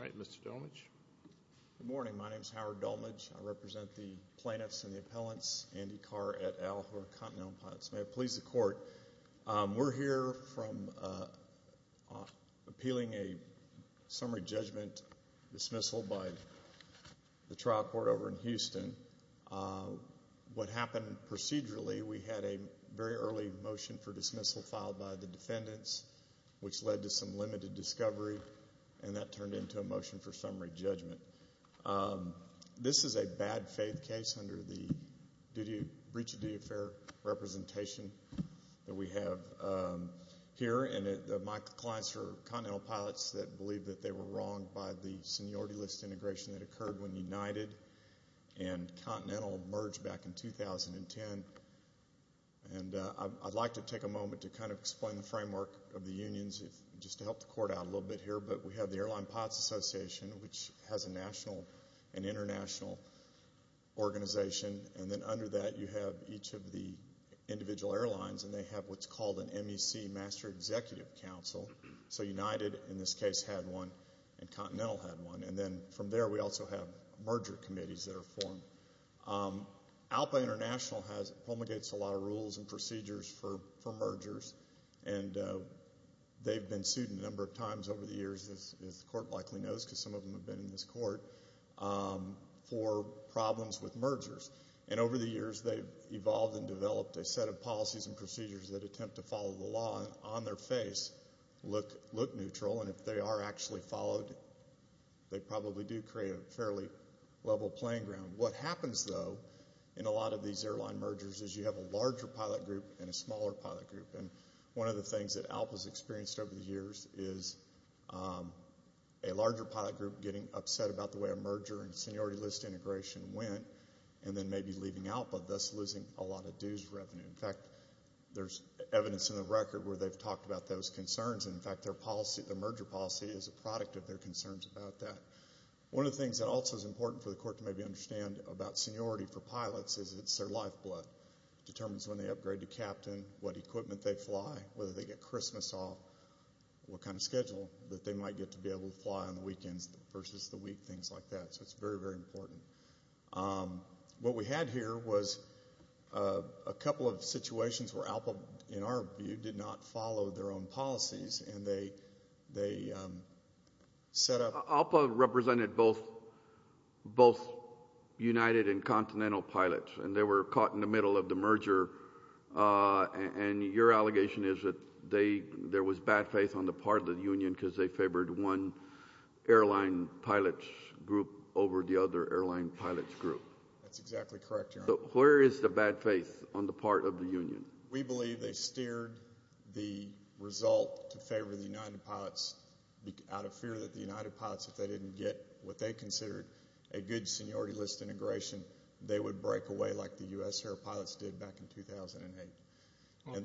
Alright, Mr. Dolmage. Good morning, my name is Howard Dolmage. I represent the plaintiffs and the appellants, Andy Carr et al, who are Continental Pilots. May it please the court, we're here from appealing a summary judgment dismissal by the trial court over in Houston. What happened procedurally, we had a very early motion for dismissal filed by the defendants, which led to some limited discovery, and that turned into a motion for summary judgment. This is a bad faith case under the Breach of Duty Affair representation that we have here, and my clients are Continental Pilots that believe that they were wronged by the seniority list integration that occurred when United and Continental merged back in 2010. I'd like to take a moment to kind of explain the framework of the unions, just to help the court out a little bit here, but we have the Air Line Pilots Association, which has a national and international organization, and then under that you have each of the individual airlines, and they have what's called an MEC, Master Executive Council. So United, in this case, had one, and Continental had one, and then from there we also have merger committees that are formed. ALPA International promulgates a lot of rules and procedures for mergers, and they've been sued a number of times over the years, as the court likely knows because some of them have been in this court, for problems with mergers. And over the years they've evolved and developed a set of policies and procedures that attempt to follow the law and on their face look neutral, and if they are actually followed, they probably do create a fairly level playing ground. What happens, though, in a lot of these airline mergers is you have a larger pilot group and a smaller pilot group, and one of the things that ALPA has experienced over the years is a larger pilot group getting upset about the way a merger and seniority list integration went, and then maybe leaving ALPA, thus losing a lot of dues revenue. In fact, there's evidence in the record where they've talked about those concerns, and in fact their merger policy is a product of their concerns about that. One of the things that also is important for the court to maybe understand about seniority for pilots is it's their lifeblood. It determines when they upgrade to captain, what equipment they fly, whether they get Christmas off, what kind of schedule that they might get to be able to fly on the weekends versus the week, things like that. So it's very, very important. What we had here was a couple of situations where ALPA, in our view, did not follow their own policies, and they set up ALPA represented both United and Continental pilots, and they were caught in the middle of the merger, and your allegation is that there was bad faith on the part of the union because they favored one airline pilots group over the other airline pilots group. That's exactly correct, Your Honor. Where is the bad faith on the part of the union? We believe they steered the result to favor the United pilots out of fear that the United pilots, if they didn't get what they considered a good seniority list integration, they would break away like the U.S. Air Pilots did back in 2008.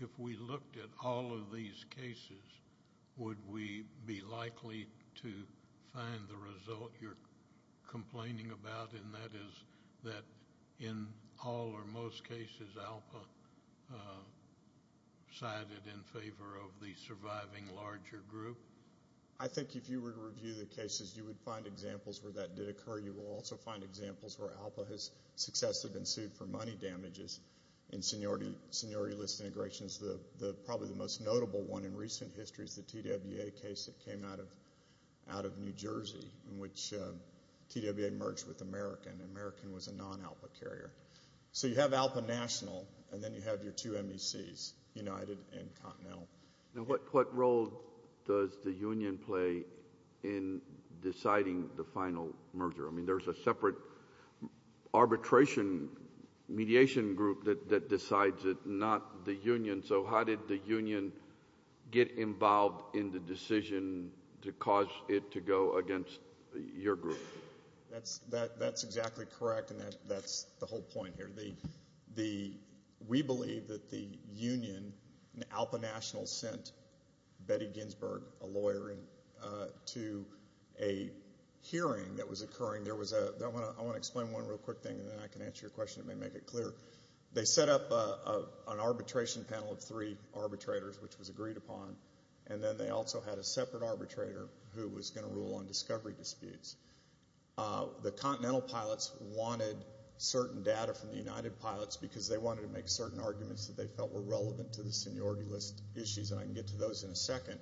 If we looked at all of these cases, would we be likely to find the result you're complaining about, and that is that in all or most cases ALPA sided in favor of the surviving larger group? I think if you were to review the cases, you would find examples where that did occur. You will also find examples where ALPA has successfully been sued for money damages in seniority list integrations. Probably the most notable one in recent history is the TWA case that came out of New Jersey in which TWA merged with American, and American was a non-ALPA carrier. So you have ALPA national, and then you have your two MECs, United and Continental. What role does the union play in deciding the final merger? I mean there's a separate arbitration mediation group that decides it, not the union. So how did the union get involved in the decision to cause it to go against your group? That's exactly correct, and that's the whole point here. We believe that the union and ALPA national sent Betty Ginsberg, a lawyer, to a hearing that was occurring. I want to explain one real quick thing, and then I can answer your question and make it clear. They set up an arbitration panel of three arbitrators, which was agreed upon, and then they also had a separate arbitrator who was going to rule on discovery disputes. The Continental pilots wanted certain data from the United pilots because they wanted to make certain arguments that they felt were relevant to the seniority list issues, and I can get to those in a second.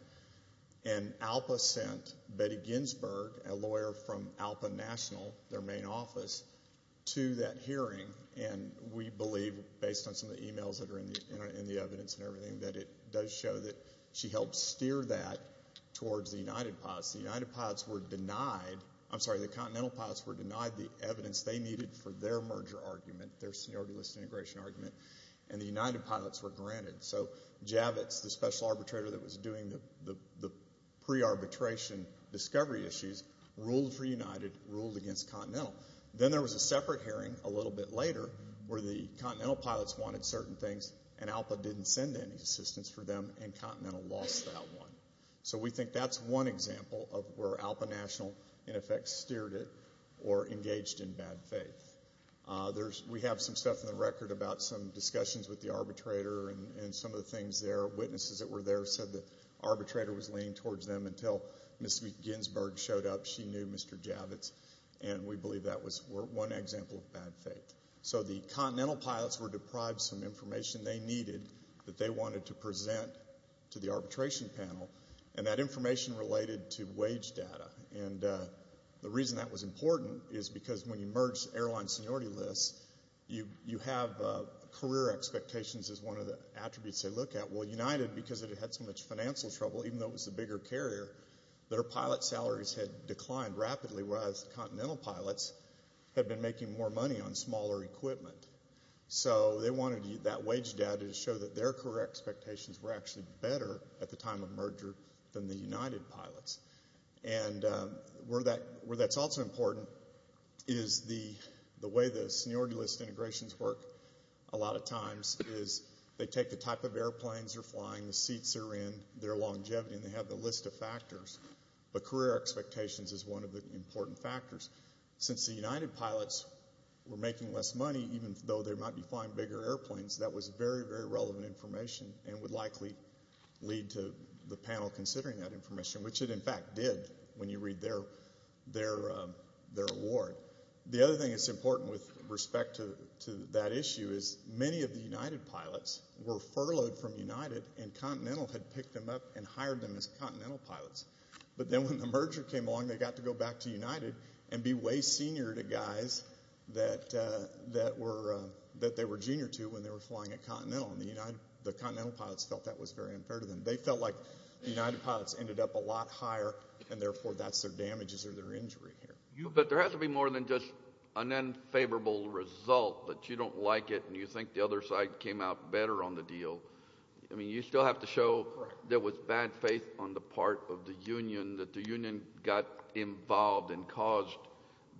And ALPA sent Betty Ginsberg, a lawyer from ALPA national, their main office, to that hearing, and we believe, based on some of the e-mails that are in the evidence and everything, that it does show that she helped steer that towards the United pilots. The Continental pilots were denied the evidence they needed for their merger argument, their seniority list integration argument, and the United pilots were granted. So Javits, the special arbitrator that was doing the pre-arbitration discovery issues, ruled for United, ruled against Continental. Then there was a separate hearing a little bit later where the Continental pilots wanted certain things and ALPA didn't send any assistance for them and Continental lost that one. So we think that's one example of where ALPA national, in effect, steered it or engaged in bad faith. We have some stuff in the record about some discussions with the arbitrator and some of the things there. Witnesses that were there said the arbitrator was leaning towards them until Ms. Ginsberg showed up. She knew Mr. Javits, and we believe that was one example of bad faith. So the Continental pilots were deprived of some information they needed that they wanted to present to the arbitration panel, and that information related to wage data. The reason that was important is because when you merge airline seniority lists, you have career expectations as one of the attributes they look at. Well, United, because it had so much financial trouble, even though it was the bigger carrier, their pilot salaries had declined rapidly, whereas Continental pilots had been making more money on smaller equipment. So they wanted that wage data to show that their career expectations were actually better at the time of merger than the United pilots. And where that's also important is the way the seniority list integrations work a lot of times is they take the type of airplanes they're flying, the seats they're in, their longevity, and they have the list of factors. But career expectations is one of the important factors. Since the United pilots were making less money, even though they might be flying bigger airplanes, that was very, very relevant information and would likely lead to the panel considering that information, which it in fact did when you read their award. The other thing that's important with respect to that issue is many of the United pilots were furloughed from United and Continental had picked them up and hired them as Continental pilots. But then when the merger came along, they got to go back to United and be way senior to guys that they were junior to when they were flying at Continental, and the Continental pilots felt that was very unfair to them. They felt like the United pilots ended up a lot higher, and therefore that's their damages or their injury here. But there has to be more than just an unfavorable result that you don't like it and you think the other side came out better on the deal. I mean, you still have to show there was bad faith on the part of the union, that the union got involved and caused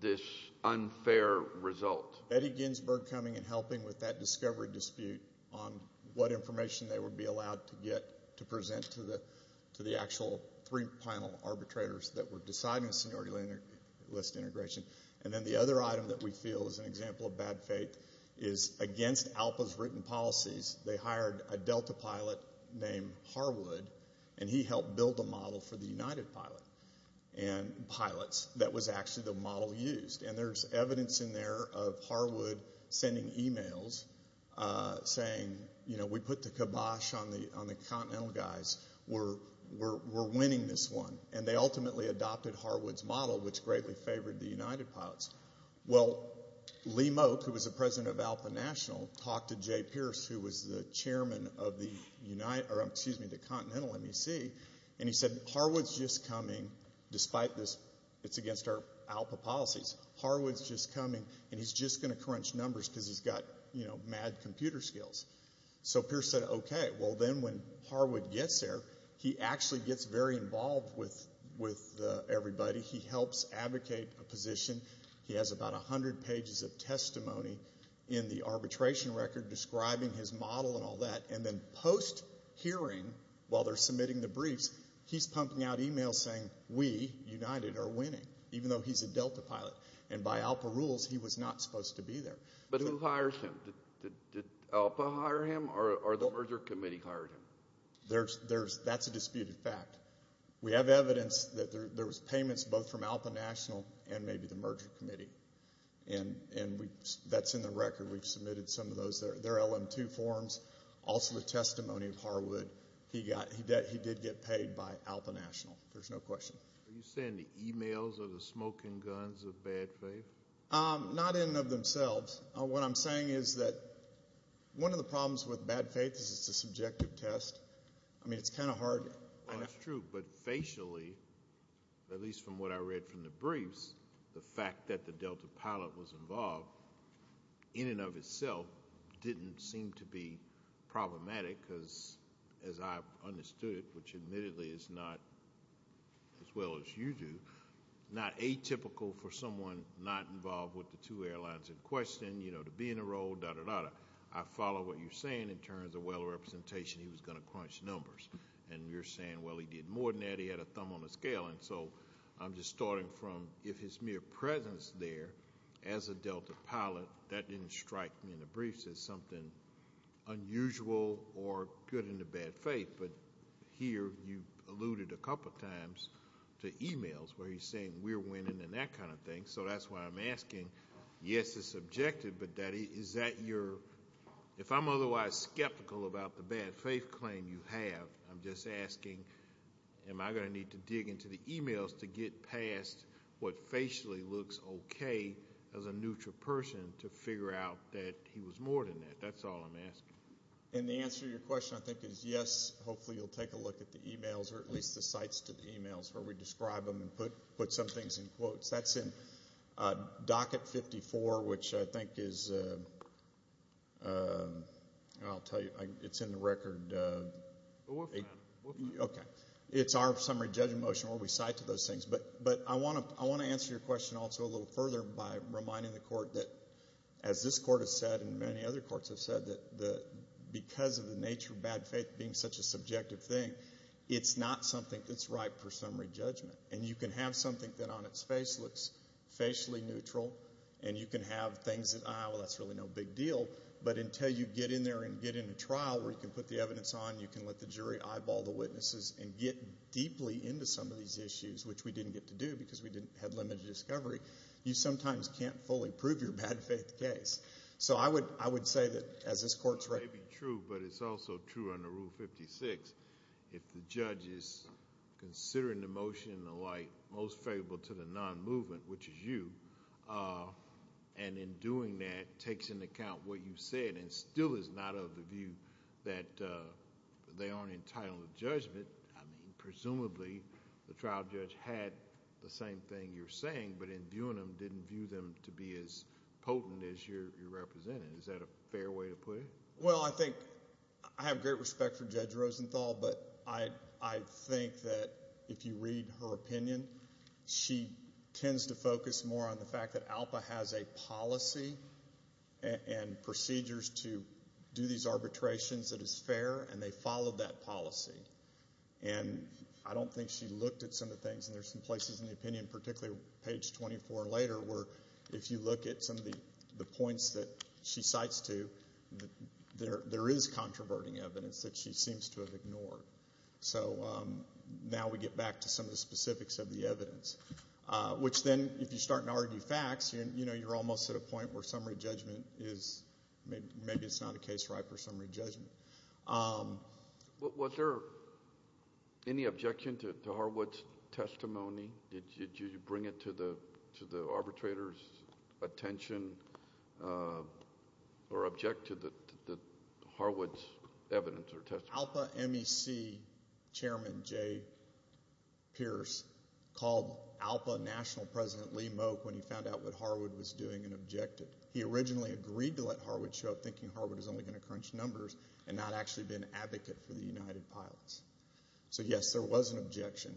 this unfair result. Eddie Ginsberg coming and helping with that discovery dispute on what information they would be allowed to get to present to the actual three-panel arbitrators that were deciding seniority list integration. And then the other item that we feel is an example of bad faith is against ALPA's written policies. They hired a Delta pilot named Harwood, and he helped build a model for the United pilots that was actually the model used. And there's evidence in there of Harwood sending emails saying, you know, we put the kibosh on the Continental guys. We're winning this one. And they ultimately adopted Harwood's model, which greatly favored the United pilots. Well, Lee Mote, who was the president of ALPA National, talked to Jay Pierce, who was the chairman of the Continental MEC, and he said, Harwood's just coming despite this. It's against our ALPA policies. Harwood's just coming, and he's just going to crunch numbers because he's got mad computer skills. So Pierce said, okay. Well, then when Harwood gets there, he actually gets very involved with everybody. He helps advocate a position. He has about 100 pages of testimony in the arbitration record describing his model and all that. And then post-hearing, while they're submitting the briefs, he's pumping out emails saying we, United, are winning, even though he's a Delta pilot. And by ALPA rules, he was not supposed to be there. But who hires him? Did ALPA hire him? Or the merger committee hired him? That's a disputed fact. We have evidence that there was payments both from ALPA National and maybe the merger committee. And that's in the record. We've submitted some of their LM-2 forms, also the testimony of Harwood. He did get paid by ALPA National. There's no question. Are you saying the emails or the smoking guns of bad faith? Not in and of themselves. What I'm saying is that one of the problems with bad faith is it's a subjective test. I mean, it's kind of hard. That's true. But facially, at least from what I read from the briefs, the fact that the Delta pilot was involved in and of itself didn't seem to be problematic because, as I understood it, which admittedly is not as well as you do, not atypical for someone not involved with the two airlines in question, you know, to be in a role, dah, dah, dah. I follow what you're saying in terms of well representation. He was going to crunch numbers. And you're saying, well, he did more than that. He had a thumb on the scale. And so I'm just starting from if his mere presence there as a Delta pilot, that didn't strike me in the briefs as something unusual or good in the bad faith. But here you alluded a couple times to e-mails where he's saying we're winning and that kind of thing. So that's why I'm asking, yes, it's subjective. But is that your ‑‑ if I'm otherwise skeptical about the bad faith claim you have, I'm just asking am I going to need to dig into the e-mails to get past what facially looks okay as a neutral person to figure out that he was more than that. That's all I'm asking. And the answer to your question I think is yes, hopefully you'll take a look at the e-mails or at least the cites to the e-mails where we describe them and put some things in quotes. That's in docket 54, which I think is, I'll tell you, it's in the record. Okay. It's our summary judgment motion where we cite to those things. But I want to answer your question also a little further by reminding the court that, as this court has said and many other courts have said, that because of the nature of bad faith being such a subjective thing, it's not something that's right for summary judgment. And you can have something that on its face looks facially neutral and you can have things that, well, that's really no big deal. But until you get in there and get in a trial where you can put the evidence on and you can let the jury eyeball the witnesses and get deeply into some of these issues, which we didn't get to do because we had limited discovery, you sometimes can't fully prove your bad faith case. So I would say that as this court's right. It may be true, but it's also true under Rule 56. If the judge is considering the motion in the light most favorable to the non-movement, which is you, and in doing that takes into account what you said and still is not of the view that they aren't entitled to judgment, I mean, presumably the trial judge had the same thing you're saying, but in viewing them didn't view them to be as potent as you're representing. Is that a fair way to put it? Well, I think I have great respect for Judge Rosenthal, but I think that if you read her opinion, she tends to focus more on the fact that ALPA has a policy and procedures to do these arbitrations that is fair, and they follow that policy. And I don't think she looked at some of the things, and there's some places in the opinion, particularly page 24 and later, where if you look at some of the points that she cites to, there is controverting evidence that she seems to have ignored. So now we get back to some of the specifics of the evidence, which then if you start to argue facts, you're almost at a point where summary judgment is, maybe it's not a case ripe for summary judgment. Was there any objection to Harwood's testimony? Did you bring it to the arbitrator's attention or object to Harwood's evidence or testimony? ALPA MEC Chairman Jay Pierce called ALPA National President Lee Moak when he found out what Harwood was doing and objected. He originally agreed to let Harwood show up, thinking Harwood was only going to crunch numbers and not actually be an advocate for the United Pilots. So, yes, there was an objection.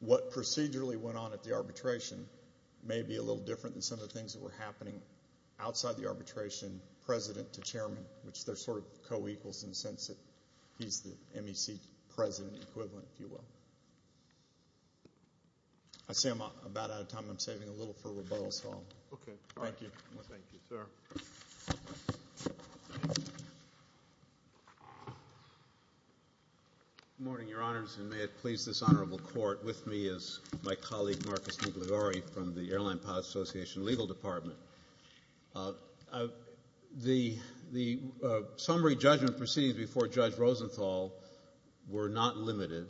What procedurally went on at the arbitration may be a little different than some of the things that were happening outside the arbitration, president to chairman, which they're sort of co-equals in the sense that he's the MEC president equivalent, if you will. I see I'm about out of time. I'm saving a little for rebuttal, so. Okay. Thank you. Thank you, sir. Good morning, Your Honors, and may it please this honorable court, with me is my colleague Marcus Migliori from the Airline Pilots Association Legal Department. The summary judgment proceedings before Judge Rosenthal were not limited.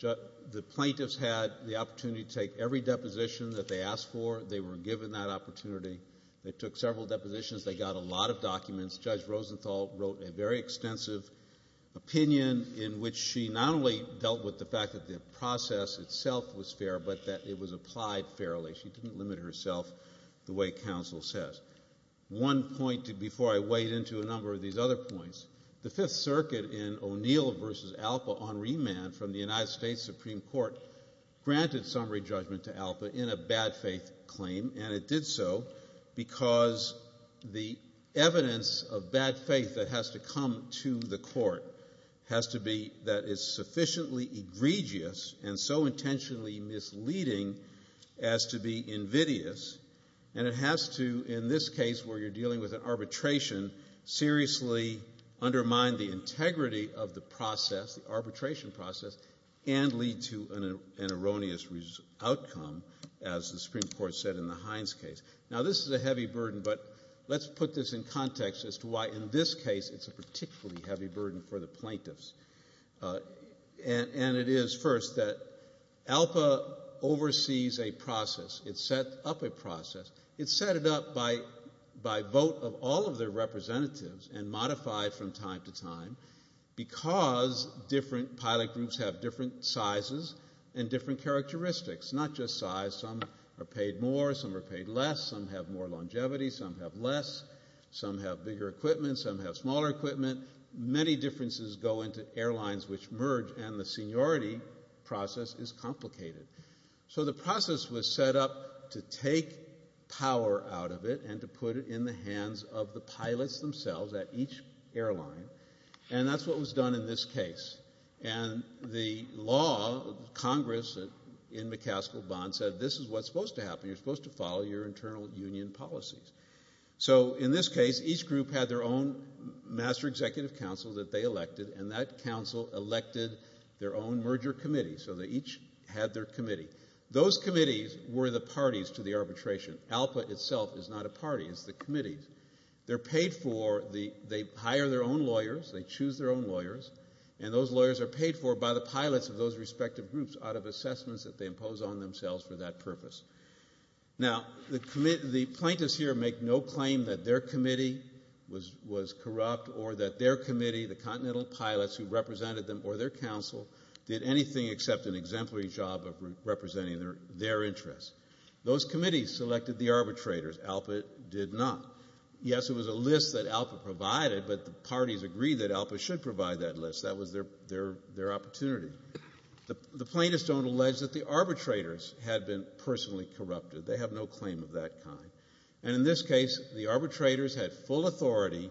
The plaintiffs had the opportunity to take every deposition that they asked for. They were given that opportunity. They took several depositions. They got a lot of documents. Judge Rosenthal wrote a very extensive opinion in which she not only dealt with the fact that the process itself was fair but that it was applied fairly. She didn't limit herself the way counsel says. One point before I wade into a number of these other points, the Fifth Circuit in O'Neill v. Alpa on remand from the United States Supreme Court granted summary judgment to Alpa in a bad faith claim, and it did so because the evidence of bad faith that has to come to the court has to be that is sufficiently egregious and so intentionally misleading as to be invidious, and it has to, in this case where you're dealing with an arbitration, seriously undermine the integrity of the process, the arbitration process, and lead to an erroneous outcome, as the Supreme Court said in the Hines case. Now, this is a heavy burden, but let's put this in context as to why in this case it's a particularly heavy burden for the plaintiffs. And it is, first, that Alpa oversees a process. It set up a process. It set it up by vote of all of their representatives and modified from time to time because different pilot groups have different sizes and different characteristics, not just size. Some are paid more. Some are paid less. Some have more longevity. Some have less. Some have bigger equipment. Some have smaller equipment. Many differences go into airlines which merge, and the seniority process is complicated. So the process was set up to take power out of it and to put it in the hands of the pilots themselves at each airline, and that's what was done in this case. And the law, Congress, in McCaskill-Bond said this is what's supposed to happen. You're supposed to follow your internal union policies. So in this case, each group had their own master executive council that they elected, and that council elected their own merger committee, so they each had their committee. Those committees were the parties to the arbitration. Alpa itself is not a party. It's the committees. They're paid for. They hire their own lawyers. They choose their own lawyers, and those lawyers are paid for by the pilots of those respective groups out of assessments that they impose on themselves for that purpose. Now, the plaintiffs here make no claim that their committee was corrupt or that their committee, the continental pilots who represented them or their council, did anything except an exemplary job of representing their interests. Those committees selected the arbitrators. Alpa did not. Yes, it was a list that Alpa provided, but the parties agreed that Alpa should provide that list. That was their opportunity. The plaintiffs don't allege that the arbitrators had been personally corrupted. They have no claim of that kind. And in this case, the arbitrators had full authority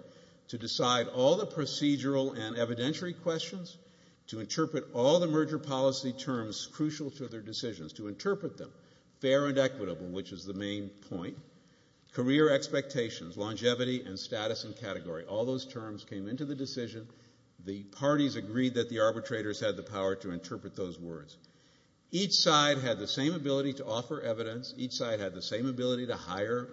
to decide all the procedural and evidentiary questions, to interpret all the merger policy terms crucial to their decisions, to interpret them, fair and equitable, which is the main point, career expectations, longevity, and status and category. All those terms came into the decision. The parties agreed that the arbitrators had the power to interpret those words. Each side had the same ability to offer evidence. Each side had the same ability to hire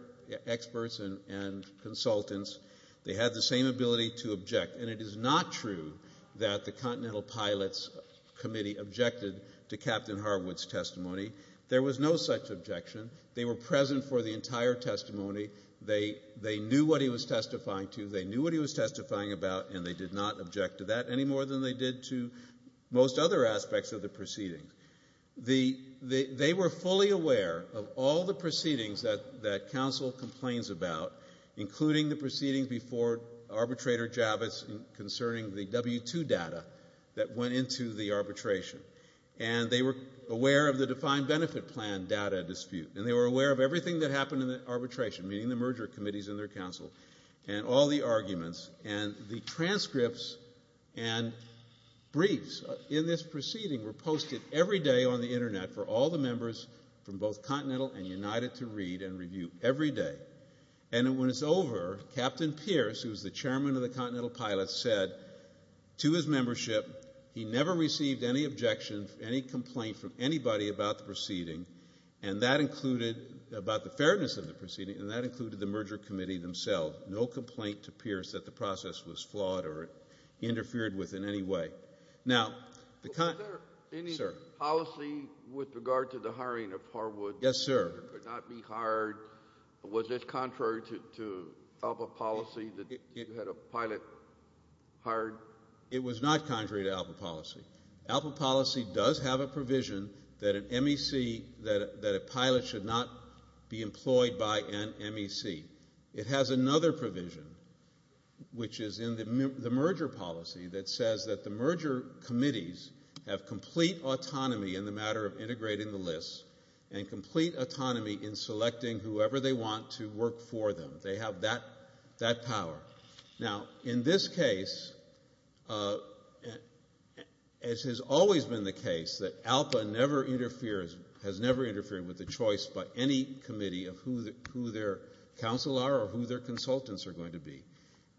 experts and consultants. They had the same ability to object. And it is not true that the Continental Pilots Committee objected to Captain Harwood's testimony. There was no such objection. They were present for the entire testimony. They knew what he was testifying to. They knew what he was testifying about, and they did not object to that any more than they did to most other aspects of the proceedings. They were fully aware of all the proceedings that counsel complains about, including the proceedings before Arbitrator Javits concerning the W-2 data that went into the arbitration. And they were aware of the defined benefit plan data dispute, and they were aware of everything that happened in the arbitration, meaning the merger committees and their counsel, and all the arguments. And the transcripts and briefs in this proceeding were posted every day on the Internet for all the members from both Continental and United to read and review every day. And when it's over, Captain Pierce, who was the chairman of the Continental Pilots, said to his membership he never received any objection, any complaint from anybody about the proceeding, about the fairness of the proceeding, and that included the merger committee themselves. No complaint to Pierce that the process was flawed or interfered with in any way. Now, the Continental Pilots Committee Was there any policy with regard to the hiring of Harwood? Yes, sir. Could not be hired? Was this contrary to ALPA policy that you had a pilot hired? It was not contrary to ALPA policy. ALPA policy does have a provision that a pilot should not be employed by an MEC. It has another provision, which is in the merger policy, that says that the merger committees have complete autonomy in the matter of integrating the lists and complete autonomy in selecting whoever they want to work for them. They have that power. Now, in this case, as has always been the case, that ALPA never interferes, has never interfered with the choice by any committee of who their counsel are or who their consultants are going to be.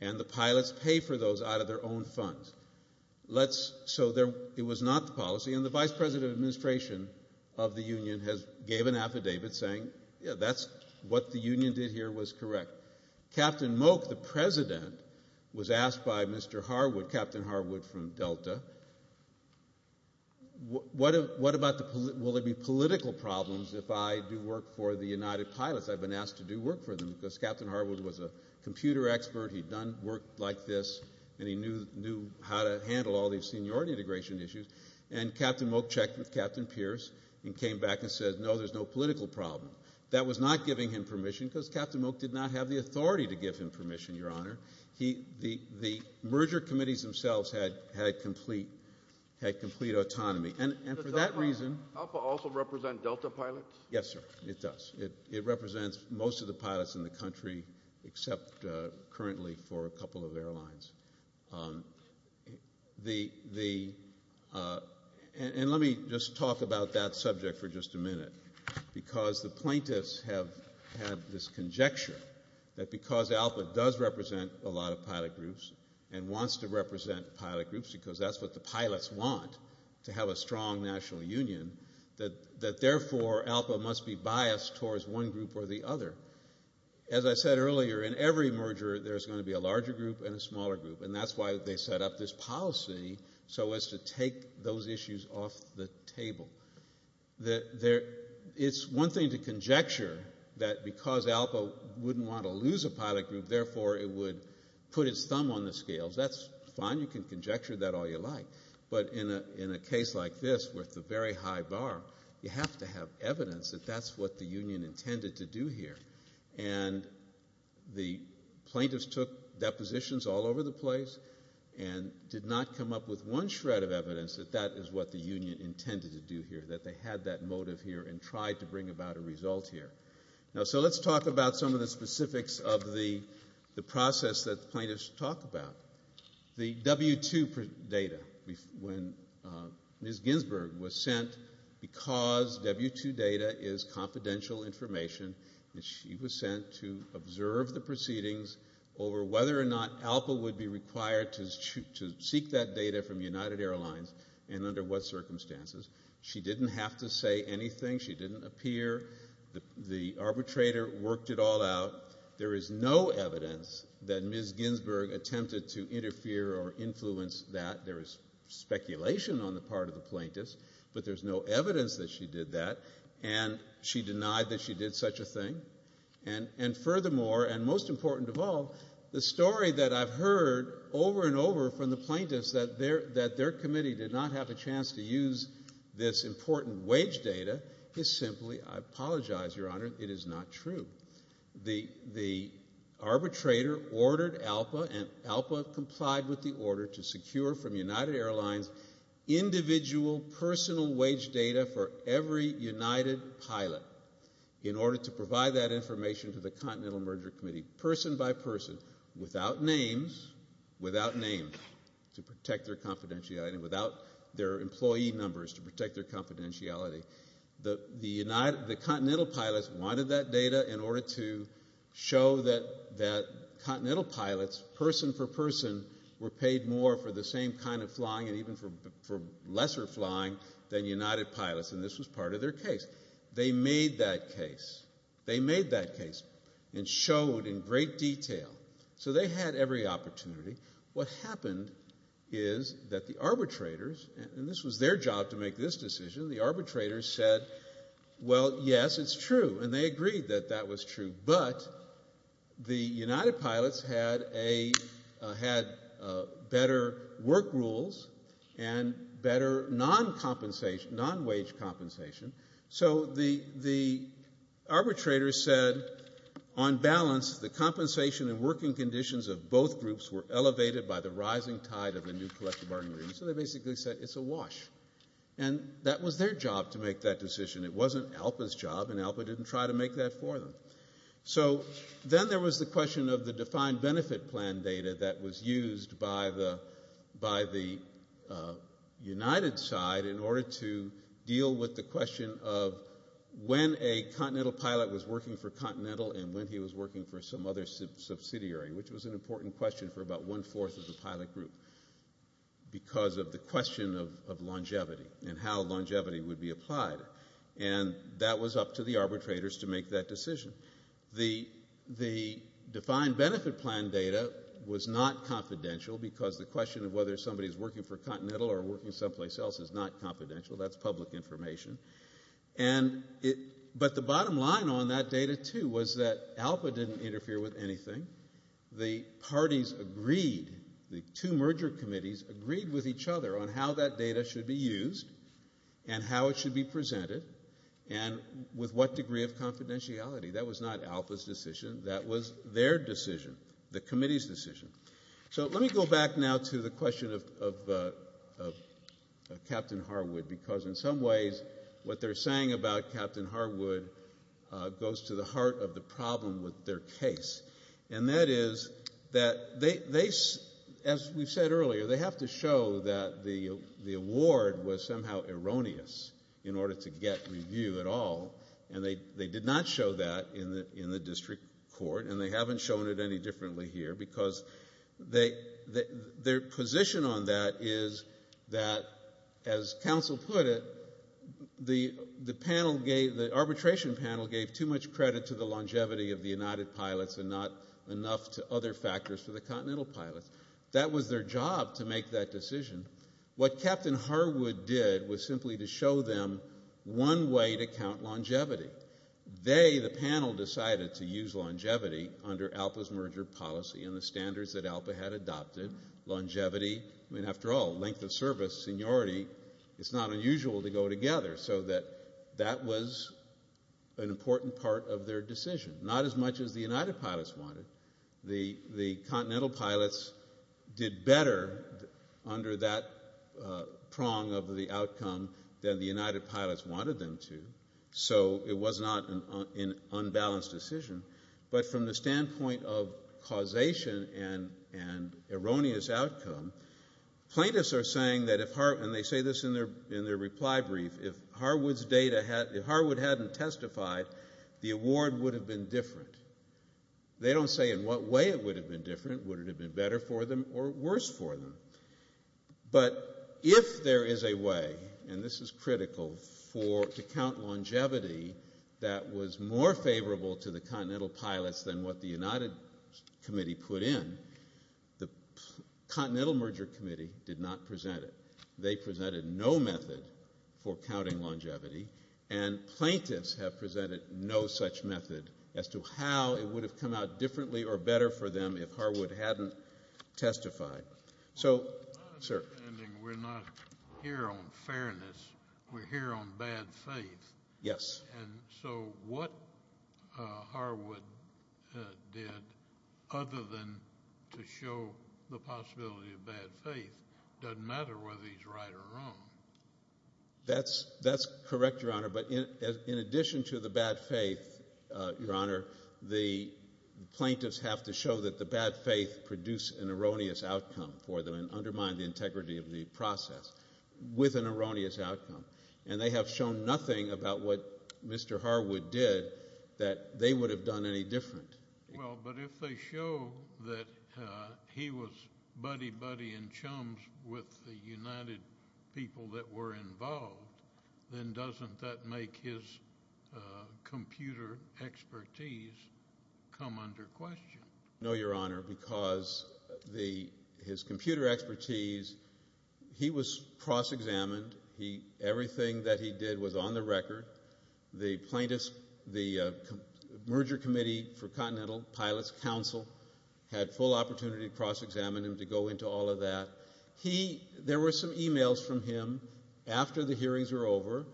And the pilots pay for those out of their own funds. So it was not the policy. And the vice president of administration of the union gave an affidavit saying, yeah, that's what the union did here was correct. Captain Moak, the president, was asked by Mr. Harwood, Captain Harwood from Delta, will there be political problems if I do work for the United Pilots? I've been asked to do work for them because Captain Harwood was a computer expert. He'd done work like this, and he knew how to handle all these seniority integration issues. And Captain Moak checked with Captain Pierce and came back and said, no, there's no political problem. That was not giving him permission because Captain Moak did not have the authority to give him permission, Your Honor. The merger committees themselves had complete autonomy. And for that reason ALPA also represent Delta Pilots? Yes, sir, it does. It represents most of the pilots in the country except currently for a couple of airlines. And let me just talk about that subject for just a minute, because the plaintiffs have had this conjecture that because ALPA does represent a lot of pilot groups and wants to represent pilot groups because that's what the pilots want, to have a strong national union, that therefore ALPA must be biased towards one group or the other. As I said earlier, in every merger there's going to be a larger group and a smaller group, and that's why they set up this policy so as to take those issues off the table. It's one thing to conjecture that because ALPA wouldn't want to lose a pilot group, therefore it would put its thumb on the scales. That's fine. You can conjecture that all you like. But in a case like this with the very high bar, you have to have evidence that that's what the union intended to do here. And the plaintiffs took depositions all over the place and did not come up with one shred of evidence that that is what the union intended to do here, that they had that motive here and tried to bring about a result here. So let's talk about some of the specifics of the process that the plaintiffs talk about. The W-2 data, when Ms. Ginsburg was sent, because W-2 data is confidential information, she was sent to observe the proceedings over whether or not ALPA would be required to seek that data from United Airlines and under what circumstances. She didn't have to say anything. She didn't appear. The arbitrator worked it all out. There is no evidence that Ms. Ginsburg attempted to interfere or influence that. There is speculation on the part of the plaintiffs, but there's no evidence that she did that, and she denied that she did such a thing. And furthermore, and most important of all, the story that I've heard over and over from the plaintiffs that their committee did not have a chance to use this important wage data is simply, I apologize, Your Honor, it is not true. The arbitrator ordered ALPA and ALPA complied with the order to secure from United Airlines individual personal wage data for every United pilot in order to provide that information to the Continental Merger Committee person by person without names, without names to protect their confidentiality, and without their employee numbers to protect their confidentiality. The Continental pilots wanted that data in order to show that Continental pilots, person for person, were paid more for the same kind of flying and even for lesser flying than United pilots, and this was part of their case. They made that case. They made that case and showed in great detail. So they had every opportunity. What happened is that the arbitrators, and this was their job to make this decision, the arbitrators said, well, yes, it's true, and they agreed that that was true, but the United pilots had better work rules and better non-compensation, non-wage compensation, so the arbitrators said, on balance, the compensation and working conditions of both groups were elevated by the rising tide of the new collective bargaining agreement, so they basically said it's a wash, and that was their job to make that decision. It wasn't ALPA's job, and ALPA didn't try to make that for them. So then there was the question of the defined benefit plan data that was used by the United side in order to deal with the question of when a Continental pilot was working for Continental and when he was working for some other subsidiary, which was an important question for about one-fourth of the pilot group because of the question of longevity and how longevity would be applied, and that was up to the arbitrators to make that decision. The defined benefit plan data was not confidential because the question of whether somebody's working for Continental or working someplace else is not confidential. That's public information. But the bottom line on that data, too, was that ALPA didn't interfere with anything. The parties agreed, the two merger committees agreed with each other on how that data should be used and how it should be presented and with what degree of confidentiality. That was not ALPA's decision. That was their decision, the committee's decision. So let me go back now to the question of Captain Harwood because in some ways what they're saying about Captain Harwood goes to the heart of the problem with their case, and that is that they, as we've said earlier, they have to show that the award was somehow erroneous in order to get review at all, and they did not show that in the district court, and they haven't shown it any differently here because their position on that is that, as counsel put it, the arbitration panel gave too much credit to the longevity of the United Pilots and not enough to other factors for the Continental Pilots. That was their job, to make that decision. What Captain Harwood did was simply to show them one way to count longevity. They, the panel, decided to use longevity under ALPA's merger policy and the standards that ALPA had adopted. Longevity, I mean, after all, length of service, seniority, it's not unusual to go together, so that that was an important part of their decision. Not as much as the United Pilots wanted. The Continental Pilots did better under that prong of the outcome than the United Pilots wanted them to, so it was not an unbalanced decision. But from the standpoint of causation and erroneous outcome, plaintiffs are saying that if Harwood, and they say this in their reply brief, if Harwood hadn't testified, the award would have been different. They don't say in what way it would have been different, would it have been better for them or worse for them. But if there is a way, and this is critical, to count longevity that was more favorable to the Continental Pilots than what the United Committee put in, the Continental Merger Committee did not present it. They presented no method for counting longevity, and plaintiffs have presented no such method as to how it would have come out differently or better for them if Harwood hadn't testified. So, sir. We're not here on fairness. We're here on bad faith. Yes. And so what Harwood did, other than to show the possibility of bad faith, doesn't matter whether he's right or wrong. That's correct, Your Honor. But in addition to the bad faith, Your Honor, the plaintiffs have to show that the bad faith produced an erroneous outcome for them and undermined the integrity of the process with an erroneous outcome. And they have shown nothing about what Mr. Harwood did that they would have done any different. Well, but if they show that he was buddy-buddy and chums with the United people that were involved, then doesn't that make his computer expertise come under question? No, Your Honor, because his computer expertise, he was cross-examined. Everything that he did was on the record. The plaintiffs, the Merger Committee for Continental Pilots Council had full opportunity to cross-examine him, to go into all of that. There were some e-mails from him after the hearings were over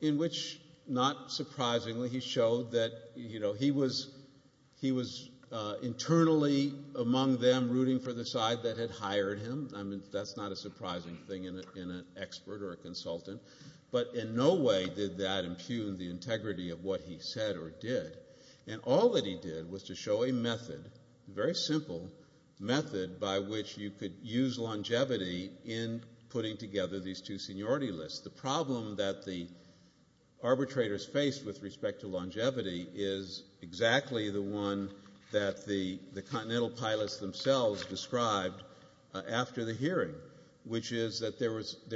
in which, not surprisingly, he showed that he was internally among them rooting for the side that had hired him. I mean, that's not a surprising thing in an expert or a consultant. But in no way did that impugn the integrity of what he said or did. And all that he did was to show a method, a very simple method, by which you could use longevity in putting together these two seniority lists. The problem that the arbitrators faced with respect to longevity is exactly the one that the Continental Pilots themselves described after the hearing, which is that there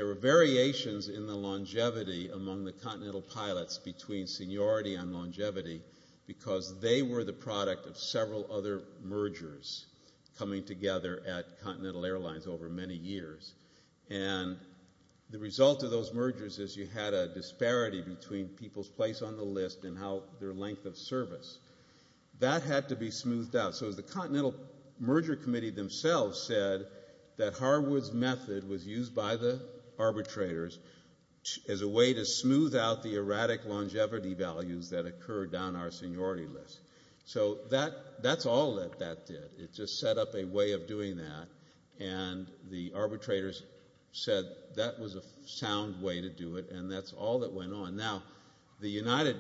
were variations in the longevity among the Continental Pilots between seniority and longevity because they were the product of several other mergers coming together at Continental Airlines over many years. And the result of those mergers is you had a disparity between people's place on the list and their length of service. That had to be smoothed out. So the Continental Merger Committee themselves said that Harwood's method was used by the arbitrators as a way to smooth out the erratic longevity values that occurred down our seniority list. So that's all that that did. It just set up a way of doing that. And the arbitrators said that was a sound way to do it, and that's all that went on. Now, the United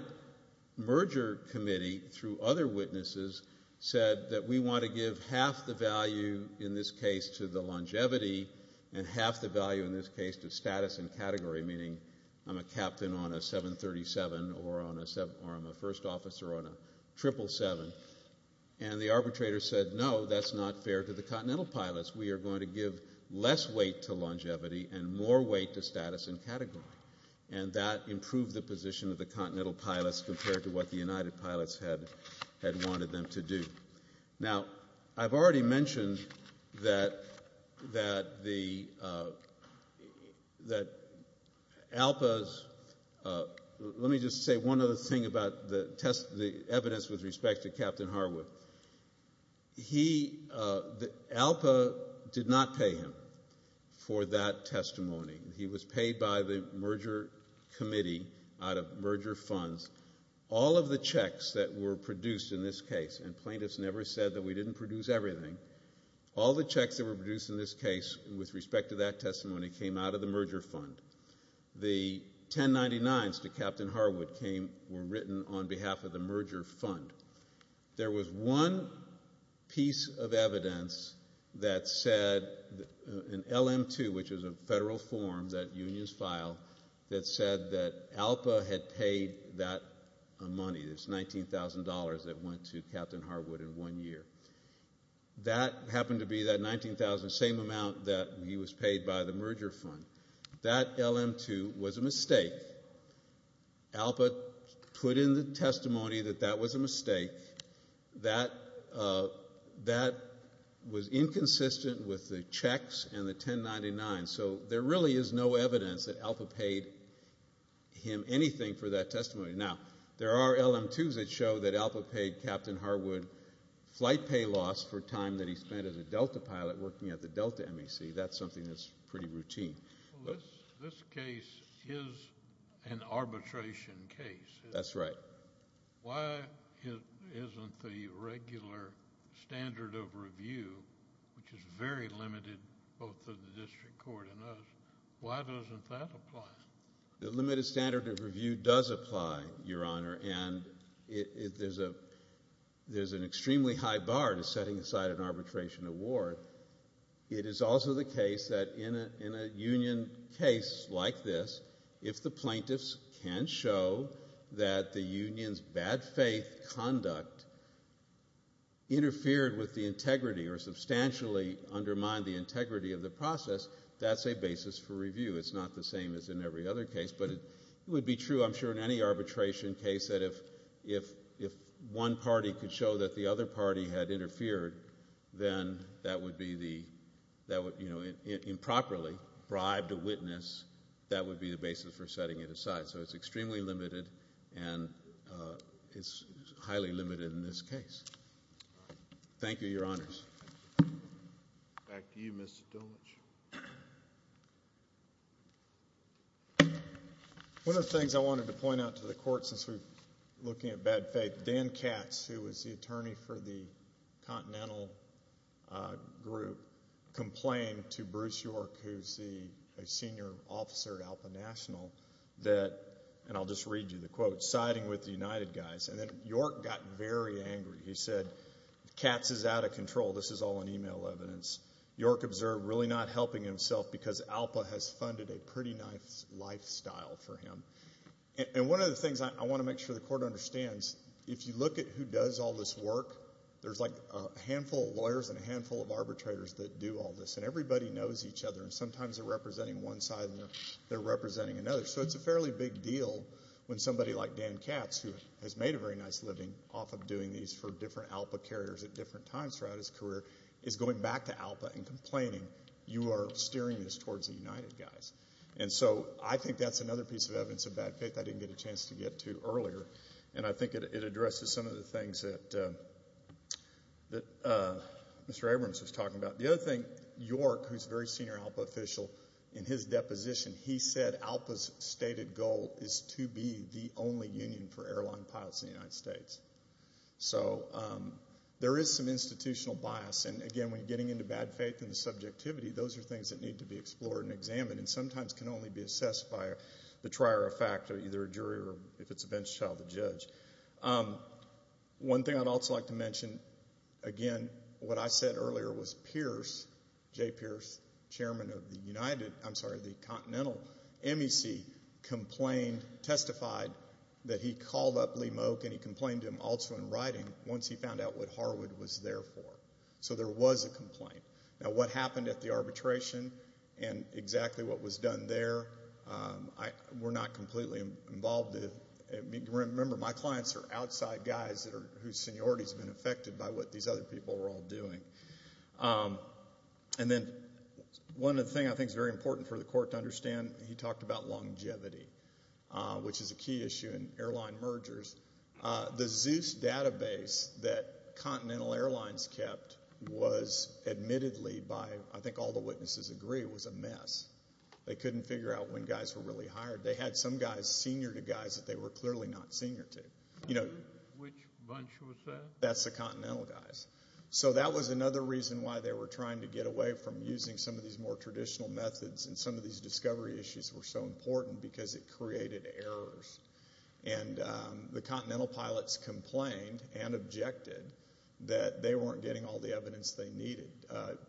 Merger Committee, through other witnesses, said that we want to give half the value in this case to the longevity and half the value in this case to status and category, meaning I'm a captain on a 737 or I'm a first officer on a 777. And the arbitrators said, no, that's not fair to the Continental Pilots. We are going to give less weight to longevity and more weight to status and category. And that improved the position of the Continental Pilots compared to what the United Pilots had wanted them to do. Now, I've already mentioned that ALPA's – let me just say one other thing about the evidence with respect to Captain Harwood. ALPA did not pay him for that testimony. He was paid by the Merger Committee out of merger funds. All of the checks that were produced in this case – and plaintiffs never said that we didn't produce everything – all the checks that were produced in this case with respect to that testimony came out of the merger fund. The 1099s to Captain Harwood were written on behalf of the merger fund. There was one piece of evidence that said – an LM-2, which is a federal form that unions file – that said that ALPA had paid that money, this $19,000 that went to Captain Harwood in one year. That happened to be that $19,000, the same amount that he was paid by the merger fund. That LM-2 was a mistake. ALPA put in the testimony that that was a mistake. That was inconsistent with the checks and the 1099s. So there really is no evidence that ALPA paid him anything for that testimony. Now, there are LM-2s that show that ALPA paid Captain Harwood flight pay loss for time that he spent as a Delta pilot working at the Delta MEC. That's something that's pretty routine. This case is an arbitration case. That's right. Why isn't the regular standard of review, which is very limited both to the district court and us, why doesn't that apply? The limited standard of review does apply, Your Honor, and there's an extremely high bar to setting aside an arbitration award. It is also the case that in a union case like this, if the plaintiffs can show that the union's bad faith conduct interfered with the integrity or substantially undermined the integrity of the process, that's a basis for review. It's not the same as in every other case. But it would be true, I'm sure, in any arbitration case, that if one party could show that the other party had interfered, then that would be the improperly bribed witness. That would be the basis for setting it aside. So it's extremely limited, and it's highly limited in this case. Thank you, Your Honors. Back to you, Mr. Dolich. One of the things I wanted to point out to the court since we're looking at bad faith, Dan Katz, who was the attorney for the Continental group, complained to Bruce York, who's a senior officer at ALPA National, that, and I'll just read you the quote, siding with the United guys. And then York got very angry. He said, Katz is out of control. This is all in email evidence. York observed really not helping himself because ALPA has funded a pretty nice lifestyle for him. And one of the things I want to make sure the court understands, if you look at who does all this work, there's like a handful of lawyers and a handful of arbitrators that do all this. And everybody knows each other, and sometimes they're representing one side and they're representing another. So it's a fairly big deal when somebody like Dan Katz, who has made a very nice living off of doing these for different ALPA carriers at different times throughout his career, is going back to ALPA and complaining, you are steering this towards the United guys. And so I think that's another piece of evidence of bad faith I didn't get a chance to get to earlier. And I think it addresses some of the things that Mr. Abrams was talking about. The other thing, York, who's a very senior ALPA official, in his deposition he said ALPA's stated goal is to be the only union for airline pilots in the United States. So there is some institutional bias. And again, when you're getting into bad faith and subjectivity, those are things that need to be explored and examined and sometimes can only be assessed by the trier of fact, either a jury or if it's a bench child, the judge. One thing I'd also like to mention, again, what I said earlier was Pierce, J. Pierce, Chairman of the Continental MEC, testified that he called up Lee Moak and he complained to him also in writing once he found out what Harwood was there for. So there was a complaint. Now, what happened at the arbitration and exactly what was done there were not completely involved. Remember, my clients are outside guys whose seniority has been affected by what these other people were all doing. And then one other thing I think is very important for the court to understand, he talked about longevity, which is a key issue in airline mergers. The Zeus database that Continental Airlines kept was admittedly by, I think all the witnesses agree, was a mess. They couldn't figure out when guys were really hired. They had some guys senior to guys that they were clearly not senior to. Which bunch was that? That's the Continental guys. So that was another reason why they were trying to get away from using some of these more traditional methods and some of these discovery issues were so important because it created errors. And the Continental pilots complained and objected that they weren't getting all the evidence they needed.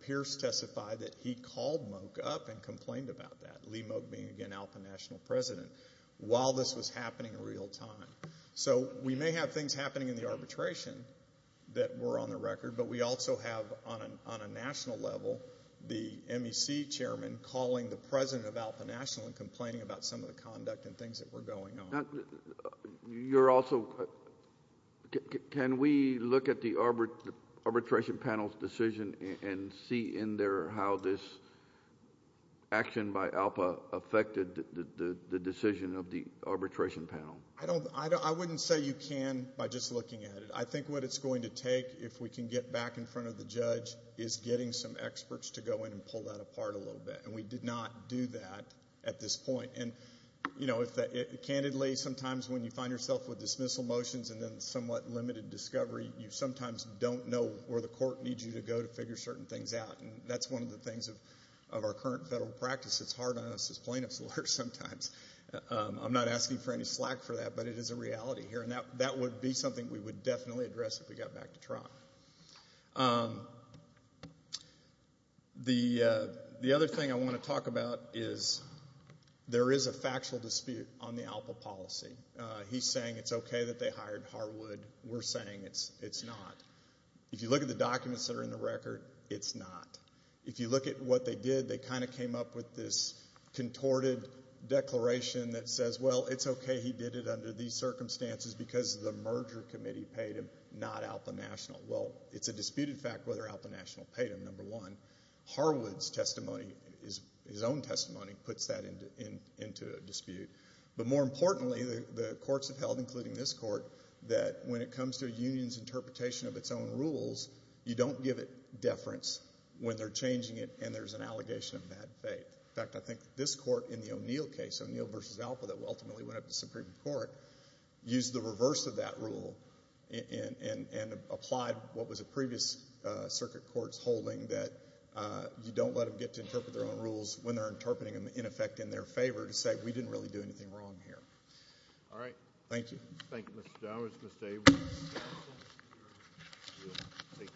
Pierce testified that he called Moak up and complained about that, Lee Moak being, again, ALPA National President, while this was happening in real time. So we may have things happening in the arbitration that were on the record, but we also have, on a national level, the MEC chairman calling the president of ALPA National and complaining about some of the conduct and things that were going on. You're also... Can we look at the arbitration panel's decision and see in there how this action by ALPA affected the decision of the arbitration panel? I wouldn't say you can by just looking at it. I think what it's going to take, if we can get back in front of the judge, is getting some experts to go in and pull that apart a little bit, and we did not do that at this point. Candidly, sometimes when you find yourself with dismissal motions and then somewhat limited discovery, you sometimes don't know where the court needs you to go to figure certain things out, and that's one of the things of our current federal practice. It's hard on us as plaintiff's lawyers sometimes. I'm not asking for any slack for that, but it is a reality here, and that would be something we would definitely address if we got back to trial. The other thing I want to talk about is there is a factual dispute on the ALPA policy. He's saying it's okay that they hired Harwood. We're saying it's not. If you look at the documents that are in the record, it's not. If you look at what they did, they kind of came up with this contorted declaration that says, well, it's okay he did it under these circumstances because the merger committee paid him, not ALPA National. Well, it's a disputed fact whether ALPA National paid him, number one. Harwood's testimony, his own testimony, puts that into dispute. But more importantly, the courts have held, including this court, that when it comes to a union's interpretation of its own rules, you don't give it deference when they're changing it and there's an allegation of bad faith. In fact, I think this court in the O'Neill case, O'Neill v. ALPA, that ultimately went up to Supreme Court, used the reverse of that rule and applied what was a previous circuit court's holding that you don't let them get to interpret their own rules when they're interpreting them, in effect, in their favor, to say we didn't really do anything wrong here. All right. Thank you. Thank you, Mr. Dowers. Ms. Dave.